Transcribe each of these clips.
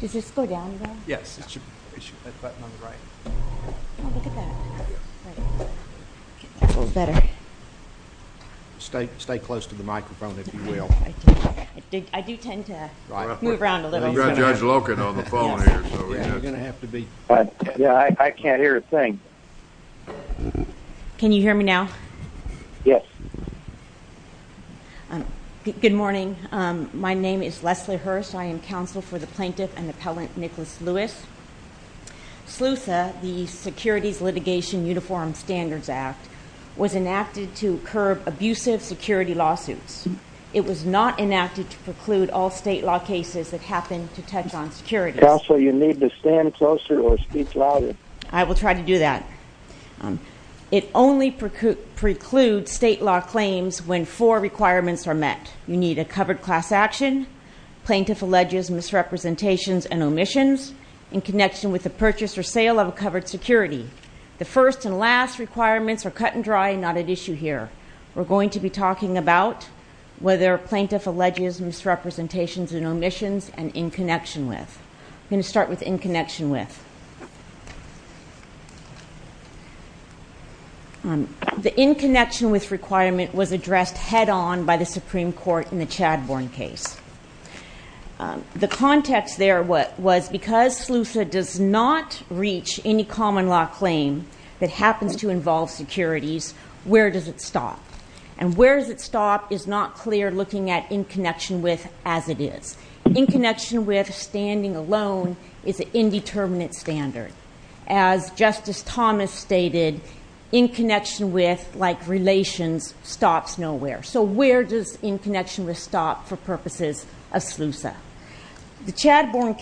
Does this go down, though? Yes, it should. That button on the right. Oh, look at that. Right. That's a little better. Stay close to the microphone, if you will. I do tend to move around a little. We've got Judge Loken on the phone here. Yeah, you're going to have to be. Yeah, I can't hear a thing. Can you hear me now? Yes. Good morning. My name is Leslie Hurst. I am counsel for the plaintiff and appellant Nicholas Lewis. SLUSA, the Securities Litigation Uniform Standards Act, was enacted to curb abusive security lawsuits. It was not enacted to preclude all state law cases that happen to touch on security. Counsel, you need to stand closer or speak louder. I will try to do that. It only precludes state law claims when four requirements are met. You need a covered class action, plaintiff alleges misrepresentations and omissions, in connection with the purchase or sale of a covered security. The first and last requirements are cut and dry and not at issue here. We're going to be talking about whether a plaintiff alleges misrepresentations and omissions and in connection with. I'm going to start with in connection with. The in connection with requirement was addressed head on by the Supreme Court in the Chadbourne case. The context there was because SLUSA does not reach any common law claim that happens to involve securities, where does it stop? And where does it stop is not clear looking at in connection with as it is. In connection with standing alone is an indeterminate standard. As Justice Thomas stated, in connection with, like relations, stops nowhere. So where does in connection with stop for purposes of SLUSA? The Chadbourne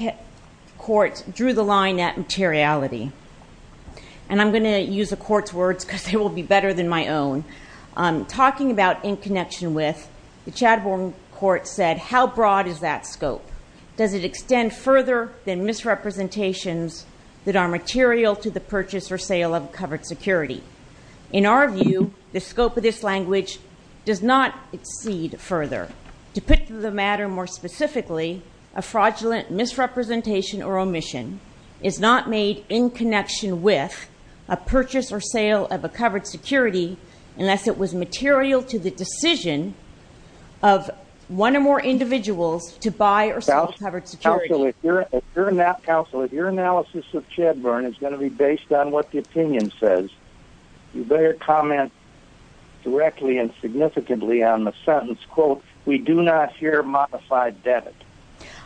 court drew the line at materiality. And I'm going to use the court's words because they will be better than my own. Talking about in connection with, the Chadbourne court said, how broad is that scope? Does it extend further than misrepresentations that are material to the purchase or sale of covered security? In our view, the scope of this language does not exceed further. To put to the matter more specifically, a fraudulent misrepresentation or unless it was material to the decision of one or more individuals to buy or sell covered security. Counsel, if your analysis of Chadbourne is going to be based on what the opinion says, you better comment directly and significantly on the sentence, quote, we do not here modify debit.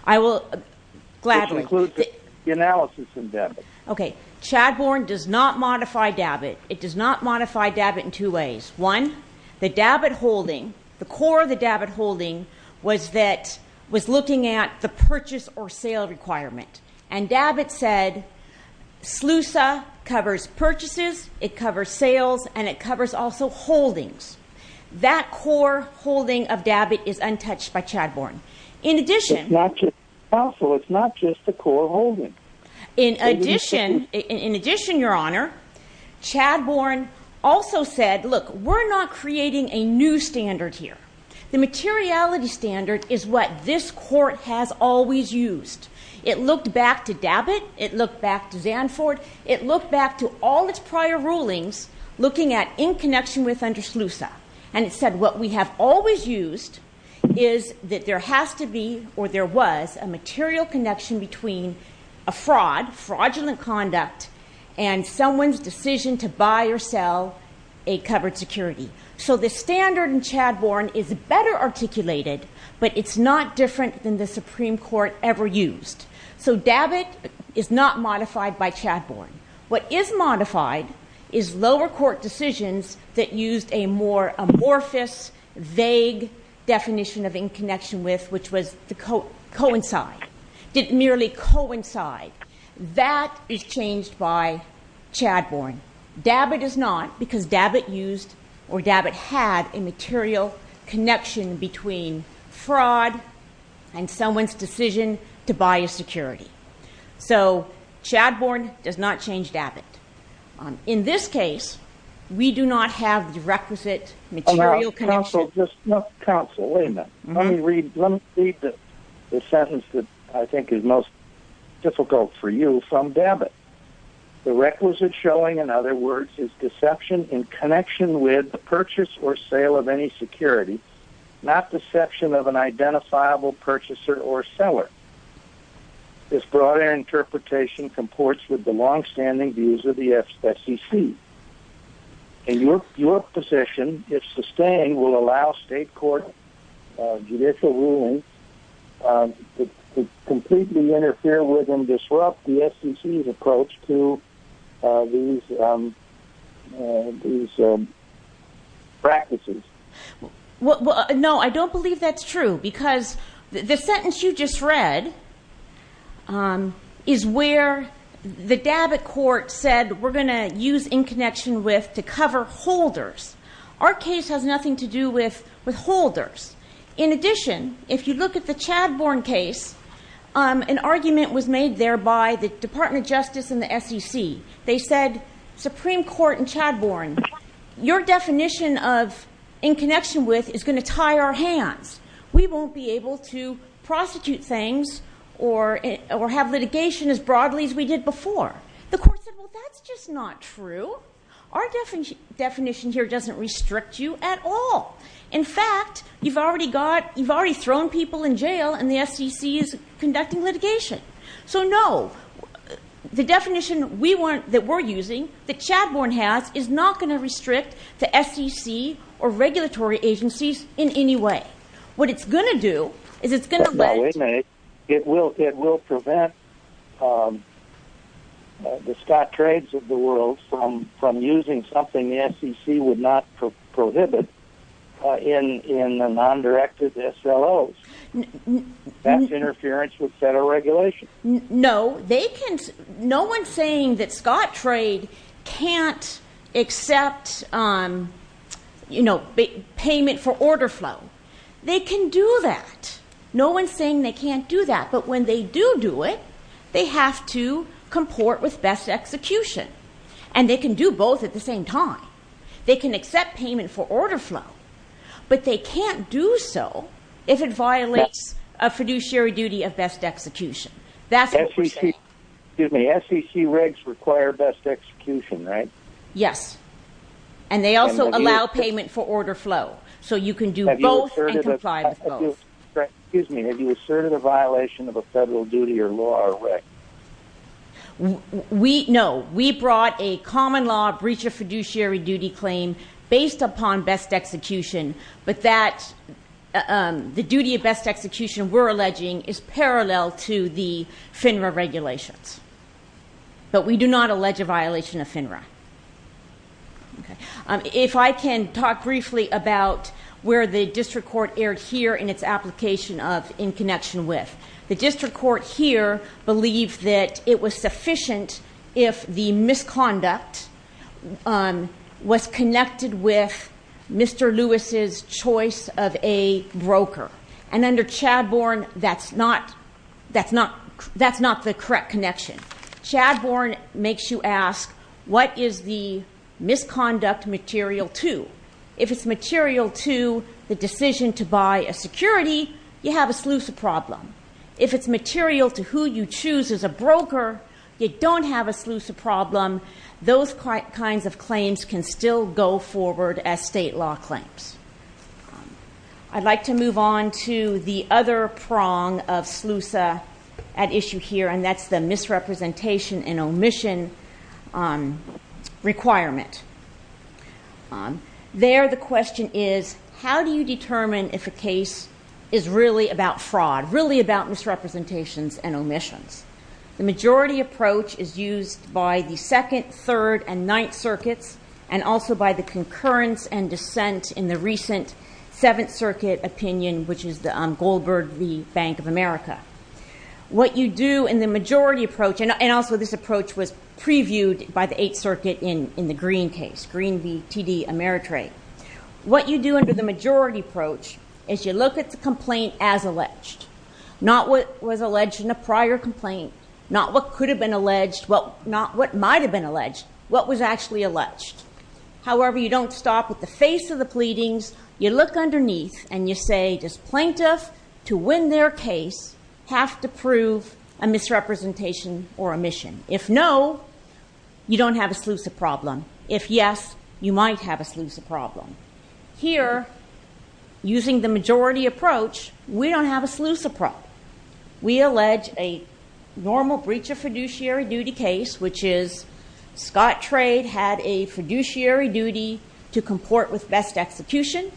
I will gladly. This includes the analysis in debit. Okay. Chadbourne does not modify debit. It does not modify debit in two ways. One, the debit holding, the core of the debit holding was that, was looking at the purchase or sale requirement. And debit said, SLUSA covers purchases, it covers sales, and it covers also holdings. That core holding of debit is untouched by Chadbourne. In addition. Counsel, it's not just a core holding. In addition, your honor, Chadbourne also said, look, we're not creating a new standard here. The materiality standard is what this court has always used. It looked back to debit. It looked back to Zanford. It looked back to all its prior rulings looking at in connection with under SLUSA. And it said what we have always used is that there has to be or there was a material connection between a fraud, fraudulent conduct, and someone's decision to buy or sell a covered security. So the standard in Chadbourne is better articulated, but it's not different than the Supreme Court ever used. So debit is not modified by Chadbourne. What is modified is lower court decisions that used a more amorphous, vague definition of in connection with, which was to coincide. Didn't merely coincide. That is changed by Chadbourne. Debit is not because debit used or debit had a material connection between fraud and someone's decision to buy a security. So Chadbourne does not change debit. In this case, we do not have the requisite material connection. Counsel, wait a minute. Let me read the sentence that I think is most difficult for you from debit. The requisite showing, in other words, is deception in connection with the purchase or sale of any security, not deception of an identifiable purchaser or seller. This broader interpretation comports with the longstanding views of the FCC. And your position, if sustained, will allow state court judicial rulings to completely interfere with and disrupt the FCC's approach to these practices. No, I don't believe that's true. Because the sentence you just read is where the debit court said we're going to use in connection with to cover holders. Our case has nothing to do with holders. In addition, if you look at the Chadbourne case, an argument was made there by the Department of Justice and the SEC. They said, Supreme Court in Chadbourne, your definition of in connection with is going to tie our hands. We won't be able to prostitute things or have litigation as broadly as we did before. The court said, well, that's just not true. Our definition here doesn't restrict you at all. In fact, you've already thrown people in jail and the SEC is conducting litigation. So, no, the definition that we're using, that Chadbourne has, is not going to restrict the SEC or regulatory agencies in any way. What it's going to do is it's going to let... It will prevent the Scott trades of the world from using something the SEC would not prohibit in the non-directed SLOs. That's interference with federal regulation? No. No one's saying that Scott trade can't accept payment for order flow. They can do that. No one's saying they can't do that. But when they do do it, they have to comport with best execution. And they can do both at the same time. They can accept payment for order flow, but they can't do so if it violates a fiduciary duty of best execution. That's what we're saying. Excuse me, SEC regs require best execution, right? Yes. And they also allow payment for order flow. So you can do both and comply with both. Excuse me, have you asserted a violation of a federal duty or law or reg? No. We brought a common law breach of fiduciary duty claim based upon best execution, but that the duty of best execution we're alleging is parallel to the FINRA regulations. But we do not allege a violation of FINRA. If I can talk briefly about where the district court erred here in its application of in connection with. The district court here believed that it was sufficient if the misconduct was connected with Mr. Lewis' choice of a broker. And under Chadbourne, that's not the correct connection. Chadbourne makes you ask, what is the misconduct material to? If it's material to the decision to buy a security, you have a SLUSA problem. If it's material to who you choose as a broker, you don't have a SLUSA problem. Those kinds of claims can still go forward as state law claims. I'd like to move on to the other prong of SLUSA at issue here, and that's the misrepresentation and omission requirement. There the question is, how do you determine if a case is really about fraud, really about misrepresentations and omissions? The majority approach is used by the Second, Third, and Ninth Circuits, and also by the concurrence and dissent in the recent Seventh Circuit opinion, which is the Goldberg v. Bank of America. What you do in the majority approach, and also this approach was previewed by the Eighth Circuit in the Green case, Green v. TD Ameritrade. What you do under the majority approach is you look at the complaint as alleged, not what was alleged in a prior complaint, not what could have been alleged, not what might have been alleged, what was actually alleged. However, you don't stop at the face of the pleadings. You look underneath, and you say, does plaintiff, to win their case, have to prove a misrepresentation or omission? If no, you don't have a SLUSA problem. If yes, you might have a SLUSA problem. Here, using the majority approach, we don't have a SLUSA problem. We allege a normal breach of fiduciary duty case, which is Scott Trade had a fiduciary duty to comport with best execution.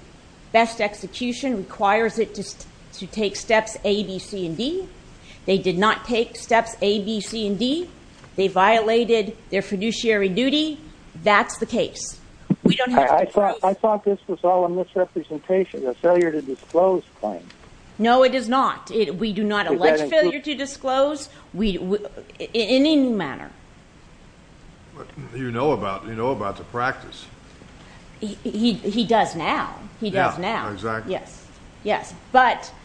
Best execution requires it to take steps A, B, C, and D. They did not take steps A, B, C, and D. They violated their fiduciary duty. That's the case. I thought this was all a misrepresentation, a failure to disclose claim. No, it is not. We do not allege failure to disclose in any manner. You know about the practice. He does now. He does now. Exactly. Yes.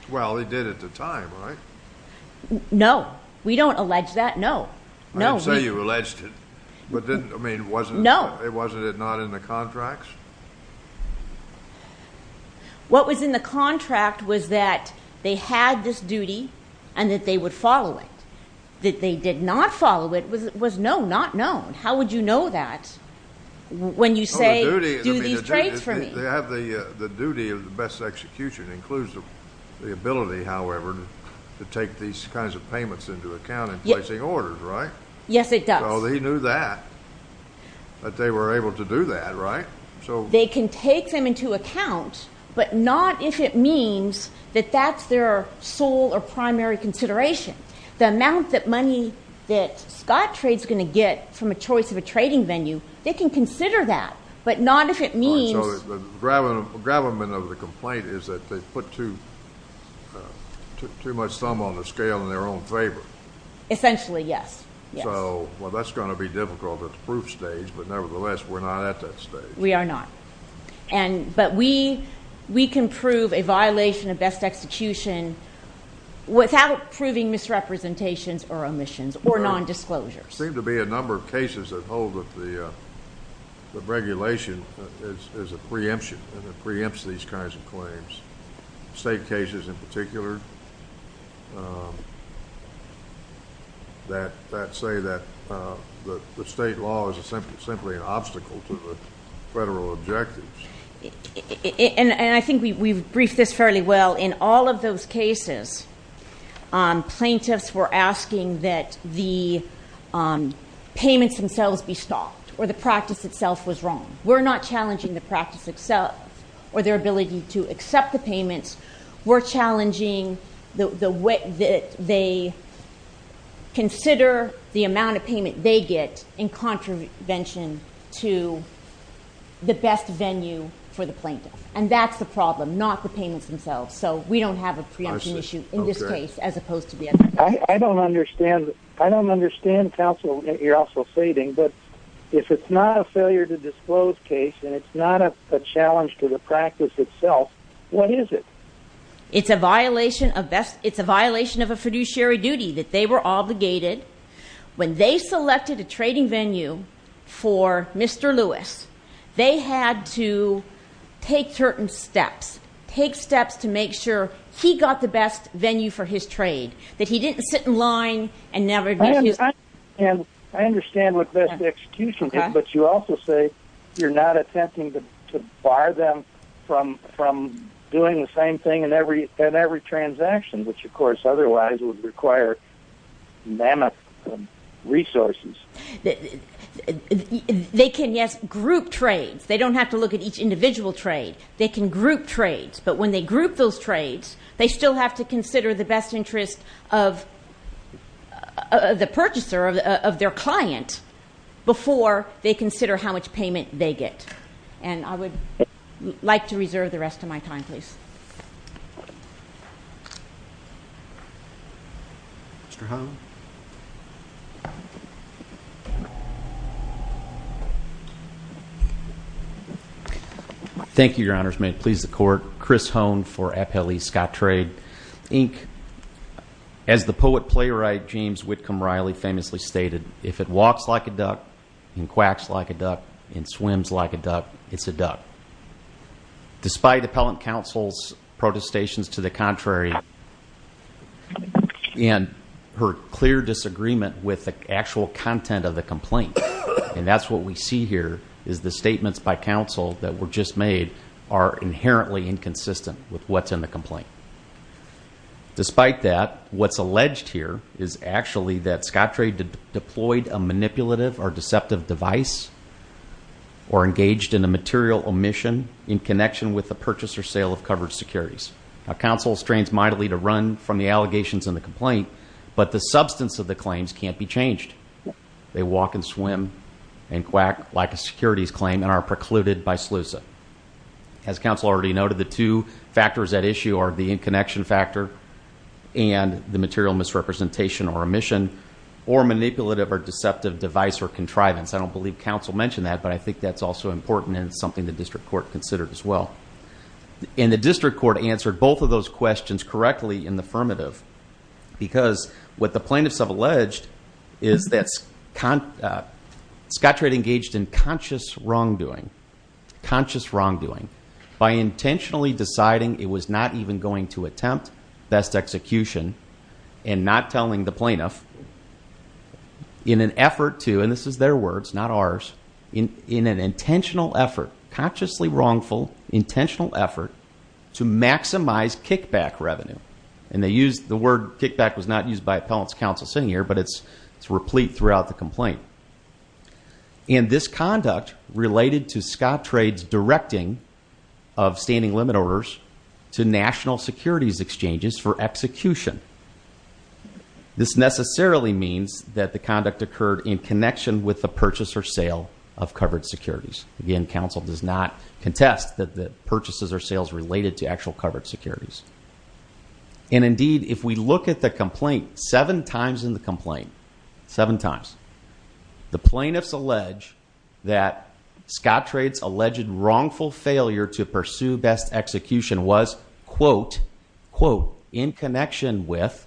Well, he did at the time, right? No. We don't allege that. No. I didn't say you alleged it, but wasn't it not in the contracts? What was in the contract was that they had this duty and that they would follow it. That they did not follow it was no, not known. How would you know that when you say do these trades for me? The duty of the best execution includes the ability, however, to take these kinds of payments into account in placing orders, right? Yes, it does. So they knew that. That they were able to do that, right? They can take them into account, but not if it means that that's their sole or primary consideration. The amount that money that Scott Trades is going to get from a choice of a trading venue, they can consider that, but not if it means. So the gravamen of the complaint is that they put too much thumb on the scale in their own favor. Essentially, yes. So, well, that's going to be difficult at the proof stage, but nevertheless, we're not at that stage. We are not. But we can prove a violation of best execution without proving misrepresentations or omissions or nondisclosures. There seem to be a number of cases that hold that the regulation is a preemption and it preempts these kinds of claims. State cases in particular that say that the state law is simply an obstacle to the federal objectives. And I think we've briefed this fairly well. In all of those cases, plaintiffs were asking that the payments themselves be stopped or the practice itself was wrong. We're not challenging the practice itself or their ability to accept the payments. We're challenging the way that they consider the amount of payment they get in contravention to the best venue for the plaintiff. And that's the problem, not the payments themselves. So we don't have a preemption issue in this case as opposed to the other. I don't understand counsel, you're also stating, but if it's not a failure to disclose case and it's not a challenge to the practice itself, what is it? It's a violation of a fiduciary duty that they were obligated. When they selected a trading venue for Mr. Lewis, they had to take certain steps, take steps to make sure he got the best venue for his trade, that he didn't sit in line and never get his... I understand what best execution is, but you also say you're not attempting to bar them from doing the same thing in every transaction, which of course otherwise would require mammoth resources. They can, yes, group trades. They don't have to look at each individual trade. They can group trades. But when they group those trades, they still have to consider the best interest of the purchaser, of their client, before they consider how much payment they get. And I would like to reserve the rest of my time, please. Mr. Hone. Thank you, Your Honors. May it please the Court. Chris Hone for Appellee Scott Trade, Inc. As the poet playwright James Whitcomb Riley famously stated, if it walks like a duck and quacks like a duck and swims like a duck, it's a duck. Despite Appellant Counsel's protestations to the contrary and her clear disagreement with the actual content of the complaint, and that's what we see here is the statements by counsel that were just made are inherently inconsistent with what's in the complaint. Despite that, what's alleged here is actually that Scott Trade deployed a manipulative or deceptive device or engaged in a material omission in connection with the purchase or sale of covered securities. Now, counsel strains mightily to run from the allegations in the complaint, but the substance of the claims can't be changed. They walk and swim and quack like a securities claim and are precluded by SLUSA. As counsel already noted, the two factors at issue are the in-connection factor and the material misrepresentation or omission, or manipulative or deceptive device or contrivance. I don't believe counsel mentioned that, but I think that's also important and something the district court considered as well. And the district court answered both of those questions correctly in the affirmative because what the plaintiffs have alleged is that Scott Trade engaged in conscious wrongdoing, conscious wrongdoing by intentionally deciding it was not even going to attempt best execution and not telling the plaintiff in an effort to, and this is their words, not ours, in an intentional effort, consciously wrongful, intentional effort to maximize kickback revenue. And the word kickback was not used by appellant's counsel sitting here, but it's replete throughout the complaint. And this conduct related to Scott Trade's directing of standing limit orders to national securities exchanges for execution. This necessarily means that the conduct occurred in connection with the purchase or sale of covered securities. Again, counsel does not contest that the purchases or sales related to actual covered securities. And indeed, if we look at the complaint, seven times in the complaint, seven times, the plaintiffs allege that Scott Trade's alleged wrongful failure to pursue best execution was quote, quote, in connection with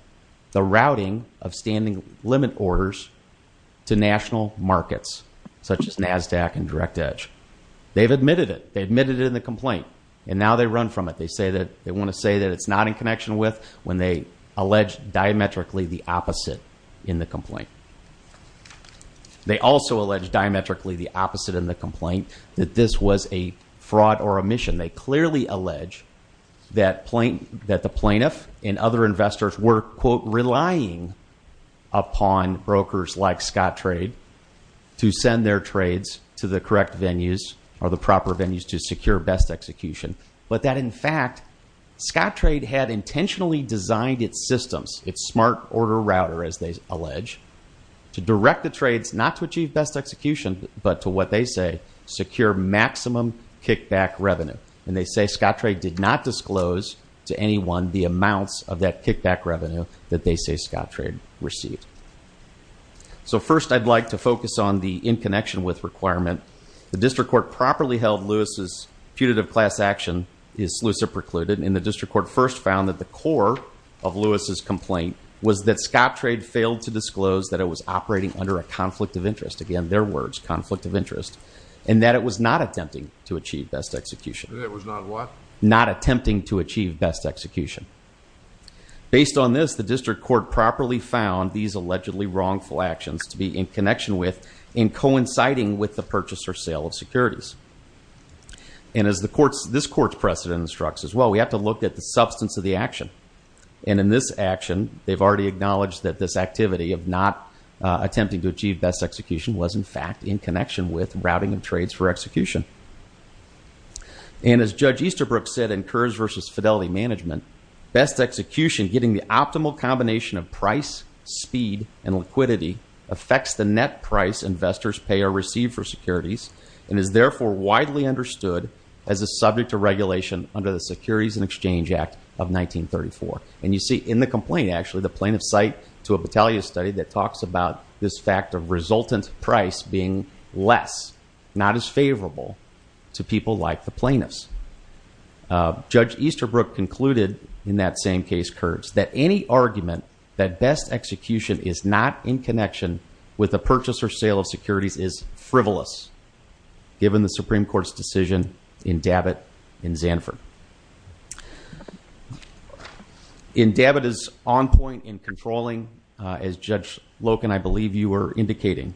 the routing of standing limit orders to national markets such as NASDAQ and Direct Edge. They've admitted it. They admitted it in the complaint, and now they run from it. They say that they want to say that it's not in connection with when they allege diametrically the opposite in the complaint. They also allege diametrically the opposite in the complaint, that this was a fraud or omission. They clearly allege that the plaintiff and other investors were, quote, relying upon brokers like Scott Trade to send their trades to the correct venues or the proper venues to secure best execution. But that in fact, Scott Trade had intentionally designed its systems, its smart order router, as they allege, to direct the trades not to achieve best execution, but to what they say, secure maximum kickback revenue. And they say Scott Trade did not disclose to anyone the amounts of that kickback revenue that they say Scott Trade received. So first, I'd like to focus on the in connection with requirement. The district court properly held Lewis's putative class action is lucid precluded, and the district court first found that the core of Lewis's complaint was that Scott Trade failed to disclose that it was operating under a conflict of interest, again, their words, conflict of interest, and that it was not attempting to achieve best execution. It was not what? Not attempting to achieve best execution. Based on this, the district court properly found these allegedly wrongful actions to be in connection with and coinciding with the purchase or sale of securities. And as this court's precedent instructs as well, we have to look at the substance of the action. And in this action, they've already acknowledged that this activity of not attempting to achieve best execution was in fact in connection with routing of trades for execution. And as Judge Easterbrook said in Kerr's versus Fidelity Management, best execution, getting the optimal combination of price, speed, and liquidity, affects the net price investors pay or receive for securities, and is therefore widely understood as a subject to regulation under the Securities and Exchange Act of 1934. And you see in the complaint, actually, the plaintiff's cite to a Battaglia study that talks about this fact of resultant price being less, not as favorable to people like the plaintiffs. Judge Easterbrook concluded in that same case, Kerr's, that any argument that best execution is not in connection with the purchase or sale of securities is frivolous, given the Supreme Court's decision in Dabbitt and Zanford. In Dabbitt is on point in controlling, as Judge Loken, I believe you were indicating.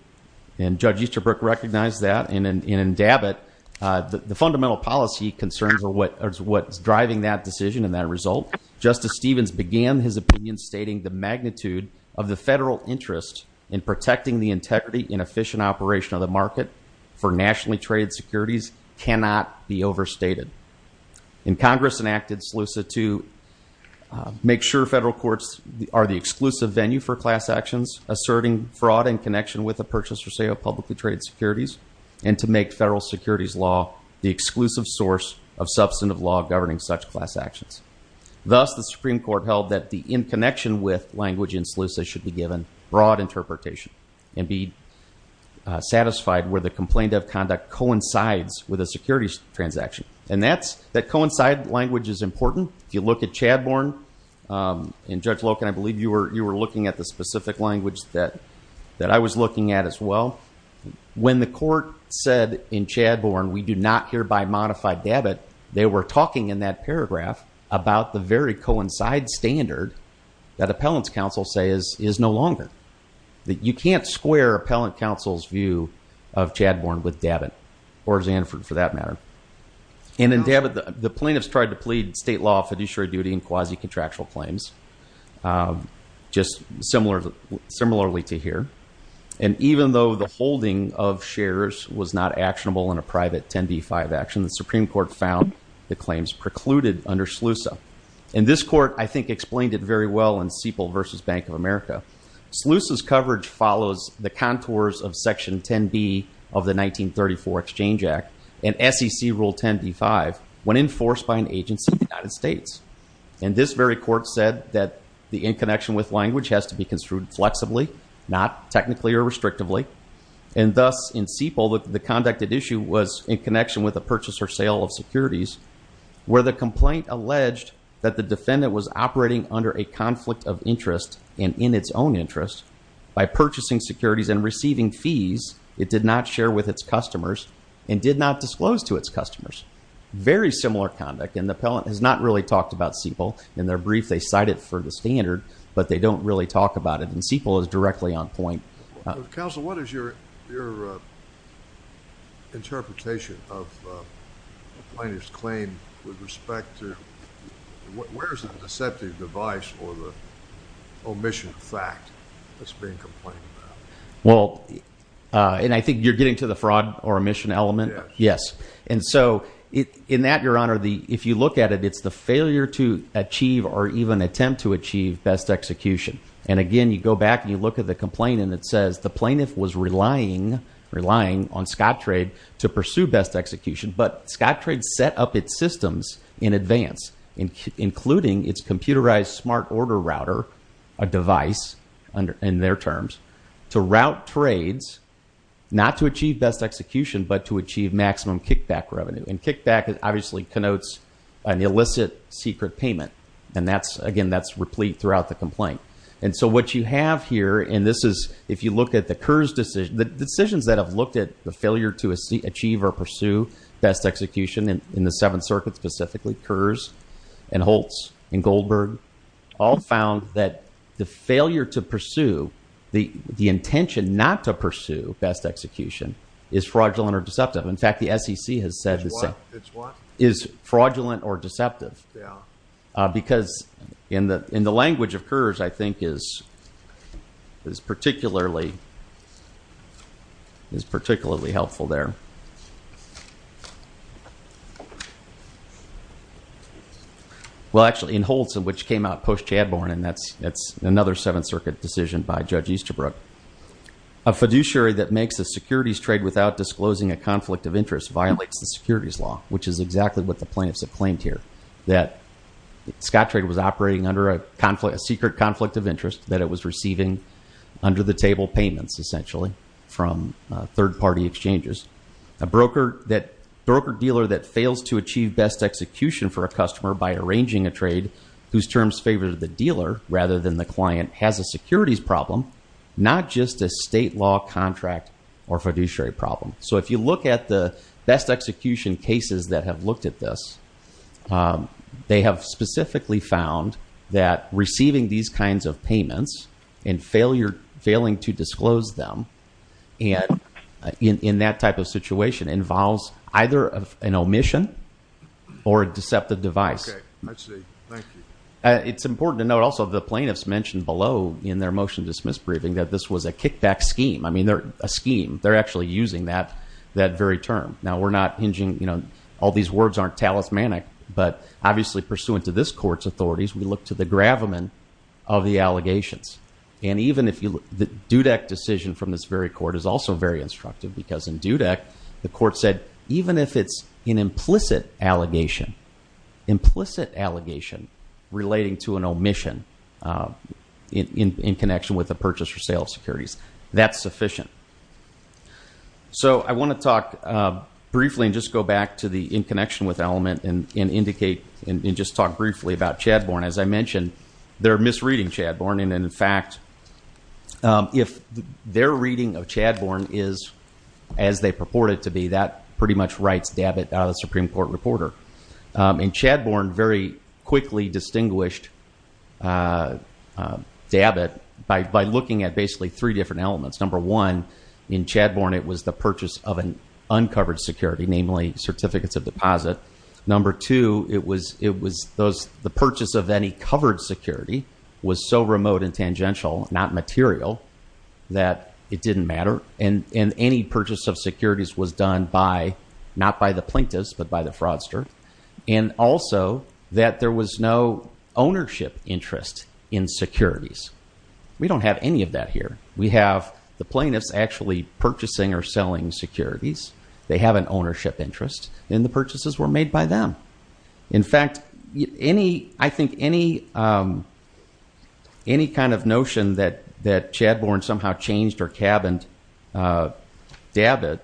And Judge Easterbrook recognized that. And in Dabbitt, the fundamental policy concerns are what's driving that decision and that result. Justice Stevens began his opinion stating the magnitude of the federal interest in protecting the integrity and efficient operation of the market for nationally traded securities cannot be overstated. And Congress enacted SLUSA to make sure federal courts are the exclusive venue for class actions, asserting fraud in connection with the purchase or sale of publicly traded securities, and to make federal securities law the exclusive source of substantive law governing such class actions. Thus, the Supreme Court held that the in connection with language in SLUSA should be given broad interpretation and be satisfied where the complaint of conduct coincides with a securities transaction. And that's, that coincide language is important. If you look at Chadbourne, and Judge Loken, I believe you were looking at the specific language that I was looking at as well. When the court said in Chadbourne, we do not hereby modify Dabbitt, they were talking in that paragraph about the very coincide standard that Appellant's Counsel says is no longer. That you can't square Appellant Counsel's view of Chadbourne with Dabbitt, or Zanford for that matter. And in Dabbitt, the plaintiffs tried to plead state law fiduciary duty in quasi-contractual claims, just similarly to here. And even though the holding of shares was not actionable in a private 10b-5 action, the Supreme Court found the claims precluded under SLUSA. And this court, I think, explained it very well in Sepal v. Bank of America. SLUSA's coverage follows the contours of Section 10b of the 1934 Exchange Act, and SEC Rule 10b-5, when enforced by an agency in the United States. And this very court said that the in-connection with language has to be construed flexibly, not technically or restrictively. And thus, in Sepal, the conducted issue was in connection with a purchase or sale of securities, where the complaint alleged that the defendant was operating under a conflict of interest, and in its own interest, by purchasing securities and receiving fees it did not share with its customers, and did not disclose to its customers. Very similar conduct. And the appellant has not really talked about Sepal. In their brief, they cite it for the standard, but they don't really talk about it. And Sepal is directly on point. Counsel, what is your interpretation of the plaintiff's claim with respect to where is the deceptive device or the omission of fact that's being complained about? Well, and I think you're getting to the fraud or omission element. Yes. And so in that, Your Honor, if you look at it, it's the failure to achieve or even attempt to achieve best execution. And again, you go back and you look at the complaint and it says the plaintiff was relying on Scottrade to pursue best execution, but Scottrade set up its systems in advance, including its computerized smart order router, a device in their terms, to route trades, not to achieve best execution, but to achieve maximum kickback revenue. And kickback obviously connotes an illicit secret payment. And that's, again, that's replete throughout the complaint. And so what you have here, and this is if you look at the Kerr's decision, the decisions that have looked at the failure to achieve or pursue best execution in the Seventh Circuit specifically, Kerr's and Holtz and Goldberg all found that the failure to pursue, the intention not to pursue best execution is fraudulent or deceptive. In fact, the SEC has said the same. It's what? Is fraudulent or deceptive. Yeah. Because in the language of Kerr's, I think, is particularly helpful there. Well, actually, in Holtz, which came out post-Chadbourne, and that's another Seventh Circuit decision by Judge Easterbrook, a fiduciary that makes a securities trade without disclosing a conflict of interest violates the securities law, which is exactly what the plaintiffs have claimed here, that Scottrade was operating under a secret conflict of interest, that it was receiving under-the-table payments, essentially, from third-party exchanges. A broker dealer that fails to achieve best execution for a customer by arranging a trade, whose terms favor the dealer rather than the client, has a securities problem, not just a state law contract or fiduciary problem. So if you look at the best execution cases that have looked at this, they have specifically found that receiving these kinds of payments and failing to disclose them in that type of situation involves either an omission or a deceptive device. Okay. I see. Thank you. It's important to note, also, the plaintiffs mentioned below in their motion to dismiss briefing that this was a kickback scheme. I mean, they're a scheme. They're actually using that very term. Now, we're not hinging, you know, all these words aren't talismanic, but obviously, pursuant to this court's authorities, we look to the gravamen of the allegations. And even if you look, the Dudek decision from this very court is also very instructive, because in Dudek, the court said, even if it's an implicit allegation, implicit allegation relating to an omission in connection with a purchase or sale of securities, that's sufficient. So I want to talk briefly and just go back to the in connection with element and indicate and just talk briefly about Chadbourne. As I mentioned, they're misreading Chadbourne. And in fact, if their reading of Chadbourne is as they purport it to be, that pretty much writes Dabbitt out of the Supreme Court reporter. And Chadbourne very quickly distinguished Dabbitt by looking at basically three different elements. Number one, in Chadbourne, it was the purchase of an uncovered security, namely certificates of deposit. Number two, it was the purchase of any covered security was so remote and tangential, not material, that it didn't matter. And any purchase of securities was done by, not by the plaintiffs, but by the fraudster. And also that there was no ownership interest in securities. We don't have any of that here. We have the plaintiffs actually purchasing or selling securities. They have an ownership interest, and the purchases were made by them. In fact, I think any kind of notion that Chadbourne somehow changed or cabined Dabbitt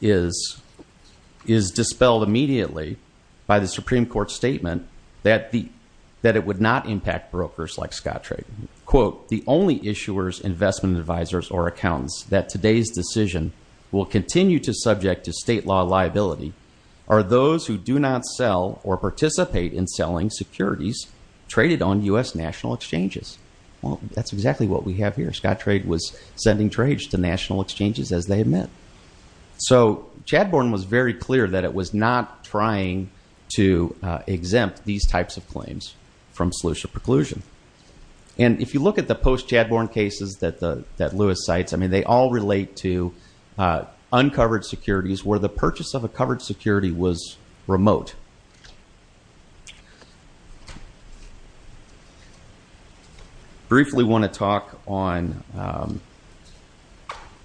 is dispelled immediately by the Supreme Court statement that it would not impact brokers like Scottraig. Quote, the only issuers, investment advisors, or accountants that today's decision will continue to subject to state law liability are those who do not sell or participate in selling securities traded on U.S. national exchanges. Well, that's exactly what we have here. Scottraig was sending trades to national exchanges as they had met. So Chadbourne was very clear that it was not trying to exempt these types of claims from solution preclusion. And if you look at the post-Chadbourne cases that Lewis cites, I mean, they all relate to uncovered securities where the purchase of a covered security was remote. Briefly want to talk on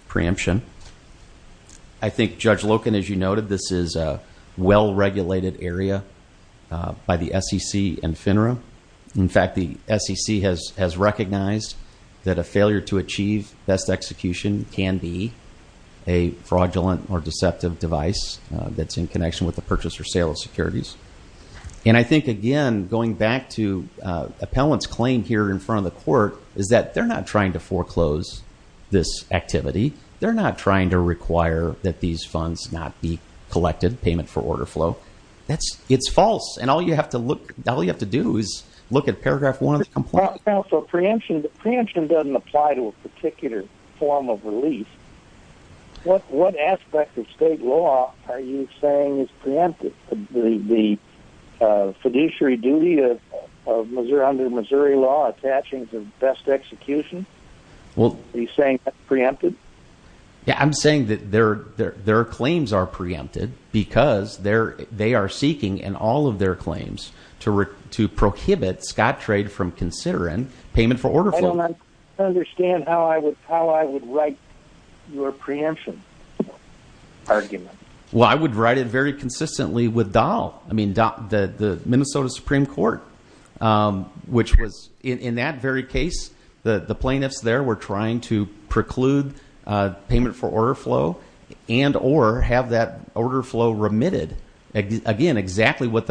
preemption. I think Judge Loken, as you noted, this is a well-regulated area by the SEC and FINRA. In fact, the SEC has recognized that a failure to achieve best execution can be a fraudulent or deceptive device that's in connection with the purchase or sale of securities. And I think, again, going back to appellant's claim here in front of the court, is that they're not trying to foreclose this activity. They're not trying to require that these funds not be collected, payment for order flow. It's false, and all you have to do is look at paragraph one of the complaint. So preemption doesn't apply to a particular form of relief. What aspect of state law are you saying is preempted? The fiduciary duty under Missouri law attaching to best execution? Are you saying that's preempted? Yeah, I'm saying that their claims are preempted because they are seeking in all of their claims to prohibit Scottrade from considering payment for order flow. I don't understand how I would write your preemption argument. Well, I would write it very consistently with Dahl, the Minnesota Supreme Court, which was, in that very case, the plaintiffs there were trying to preclude payment for order flow and or have that order flow remitted, again, exactly what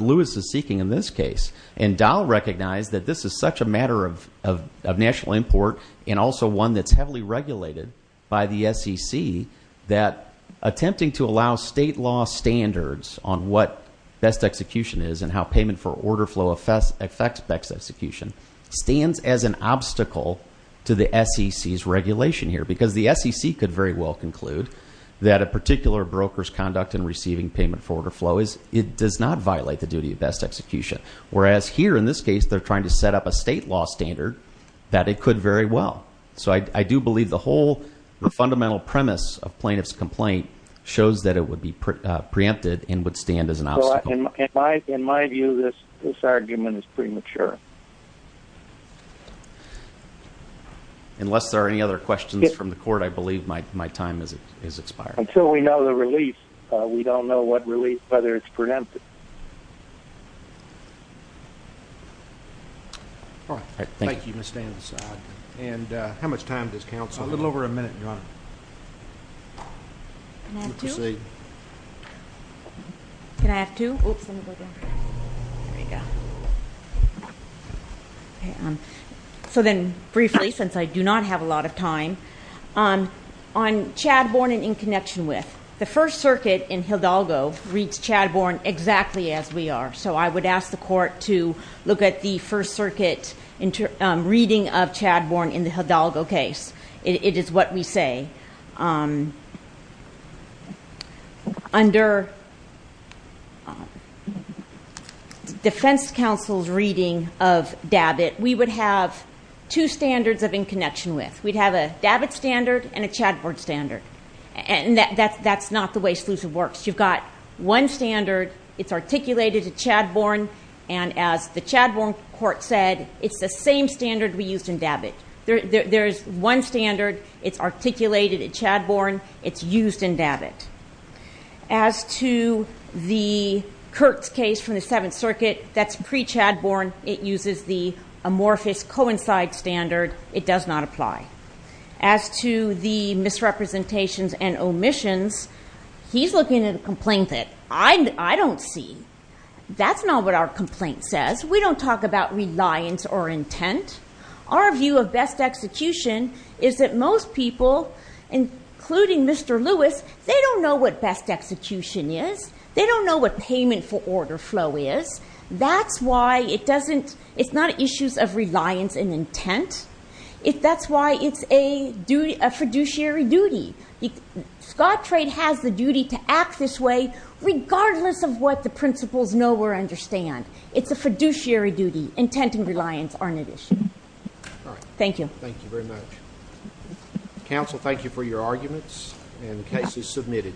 Lewis is seeking in this case. And Dahl recognized that this is such a matter of national import and also one that's heavily regulated by the SEC that attempting to allow state law standards on what best execution is and how payment for order flow affects best execution stands as an obstacle to the SEC's regulation here. Because the SEC could very well conclude that a particular broker's conduct in receiving payment for order flow does not violate the duty of best execution. Whereas here, in this case, they're trying to set up a state law standard that it could very well. So I do believe the whole fundamental premise of plaintiff's complaint shows that it would be preempted and would stand as an obstacle. In my view, this argument is premature. Unless there are any other questions from the court, I believe my time has expired. Until we know the relief, we don't know what relief, whether it's preempted. All right. Thank you, Mr. Anderson. And how much time does counsel have? A little over a minute, Your Honor. Can I have two? Proceed. Can I have two? Oops, let me go down here. There we go. Okay. So then, briefly, since I do not have a lot of time, on Chadbourne and in connection with, the First Circuit in Hildalgo reads Chadbourne exactly as we are. So I would ask the court to look at the First Circuit reading of Chadbourne in the Hildalgo case. It is what we say. Under defense counsel's reading of Dabit, we would have two standards of in connection with. We'd have a Dabit standard and a Chadbourne standard. And that's not the way SLEUSA works. You've got one standard. It's articulated at Chadbourne. And as the Chadbourne court said, it's the same standard we used in Dabit. There is one standard. It's articulated at Chadbourne. It's used in Dabit. As to the Kurtz case from the Seventh Circuit, that's pre-Chadbourne. It uses the amorphous coincide standard. It does not apply. As to the misrepresentations and omissions, he's looking at a complaint that I don't see. That's not what our complaint says. We don't talk about reliance or intent. Our view of best execution is that most people, including Mr. Lewis, they don't know what best execution is. They don't know what payment for order flow is. That's why it's not issues of reliance and intent. That's why it's a fiduciary duty. Scottrade has the duty to act this way regardless of what the principles know or understand. It's a fiduciary duty. Intent and reliance aren't an issue. Thank you. Thank you very much. Counsel, thank you for your arguments. The case is submitted.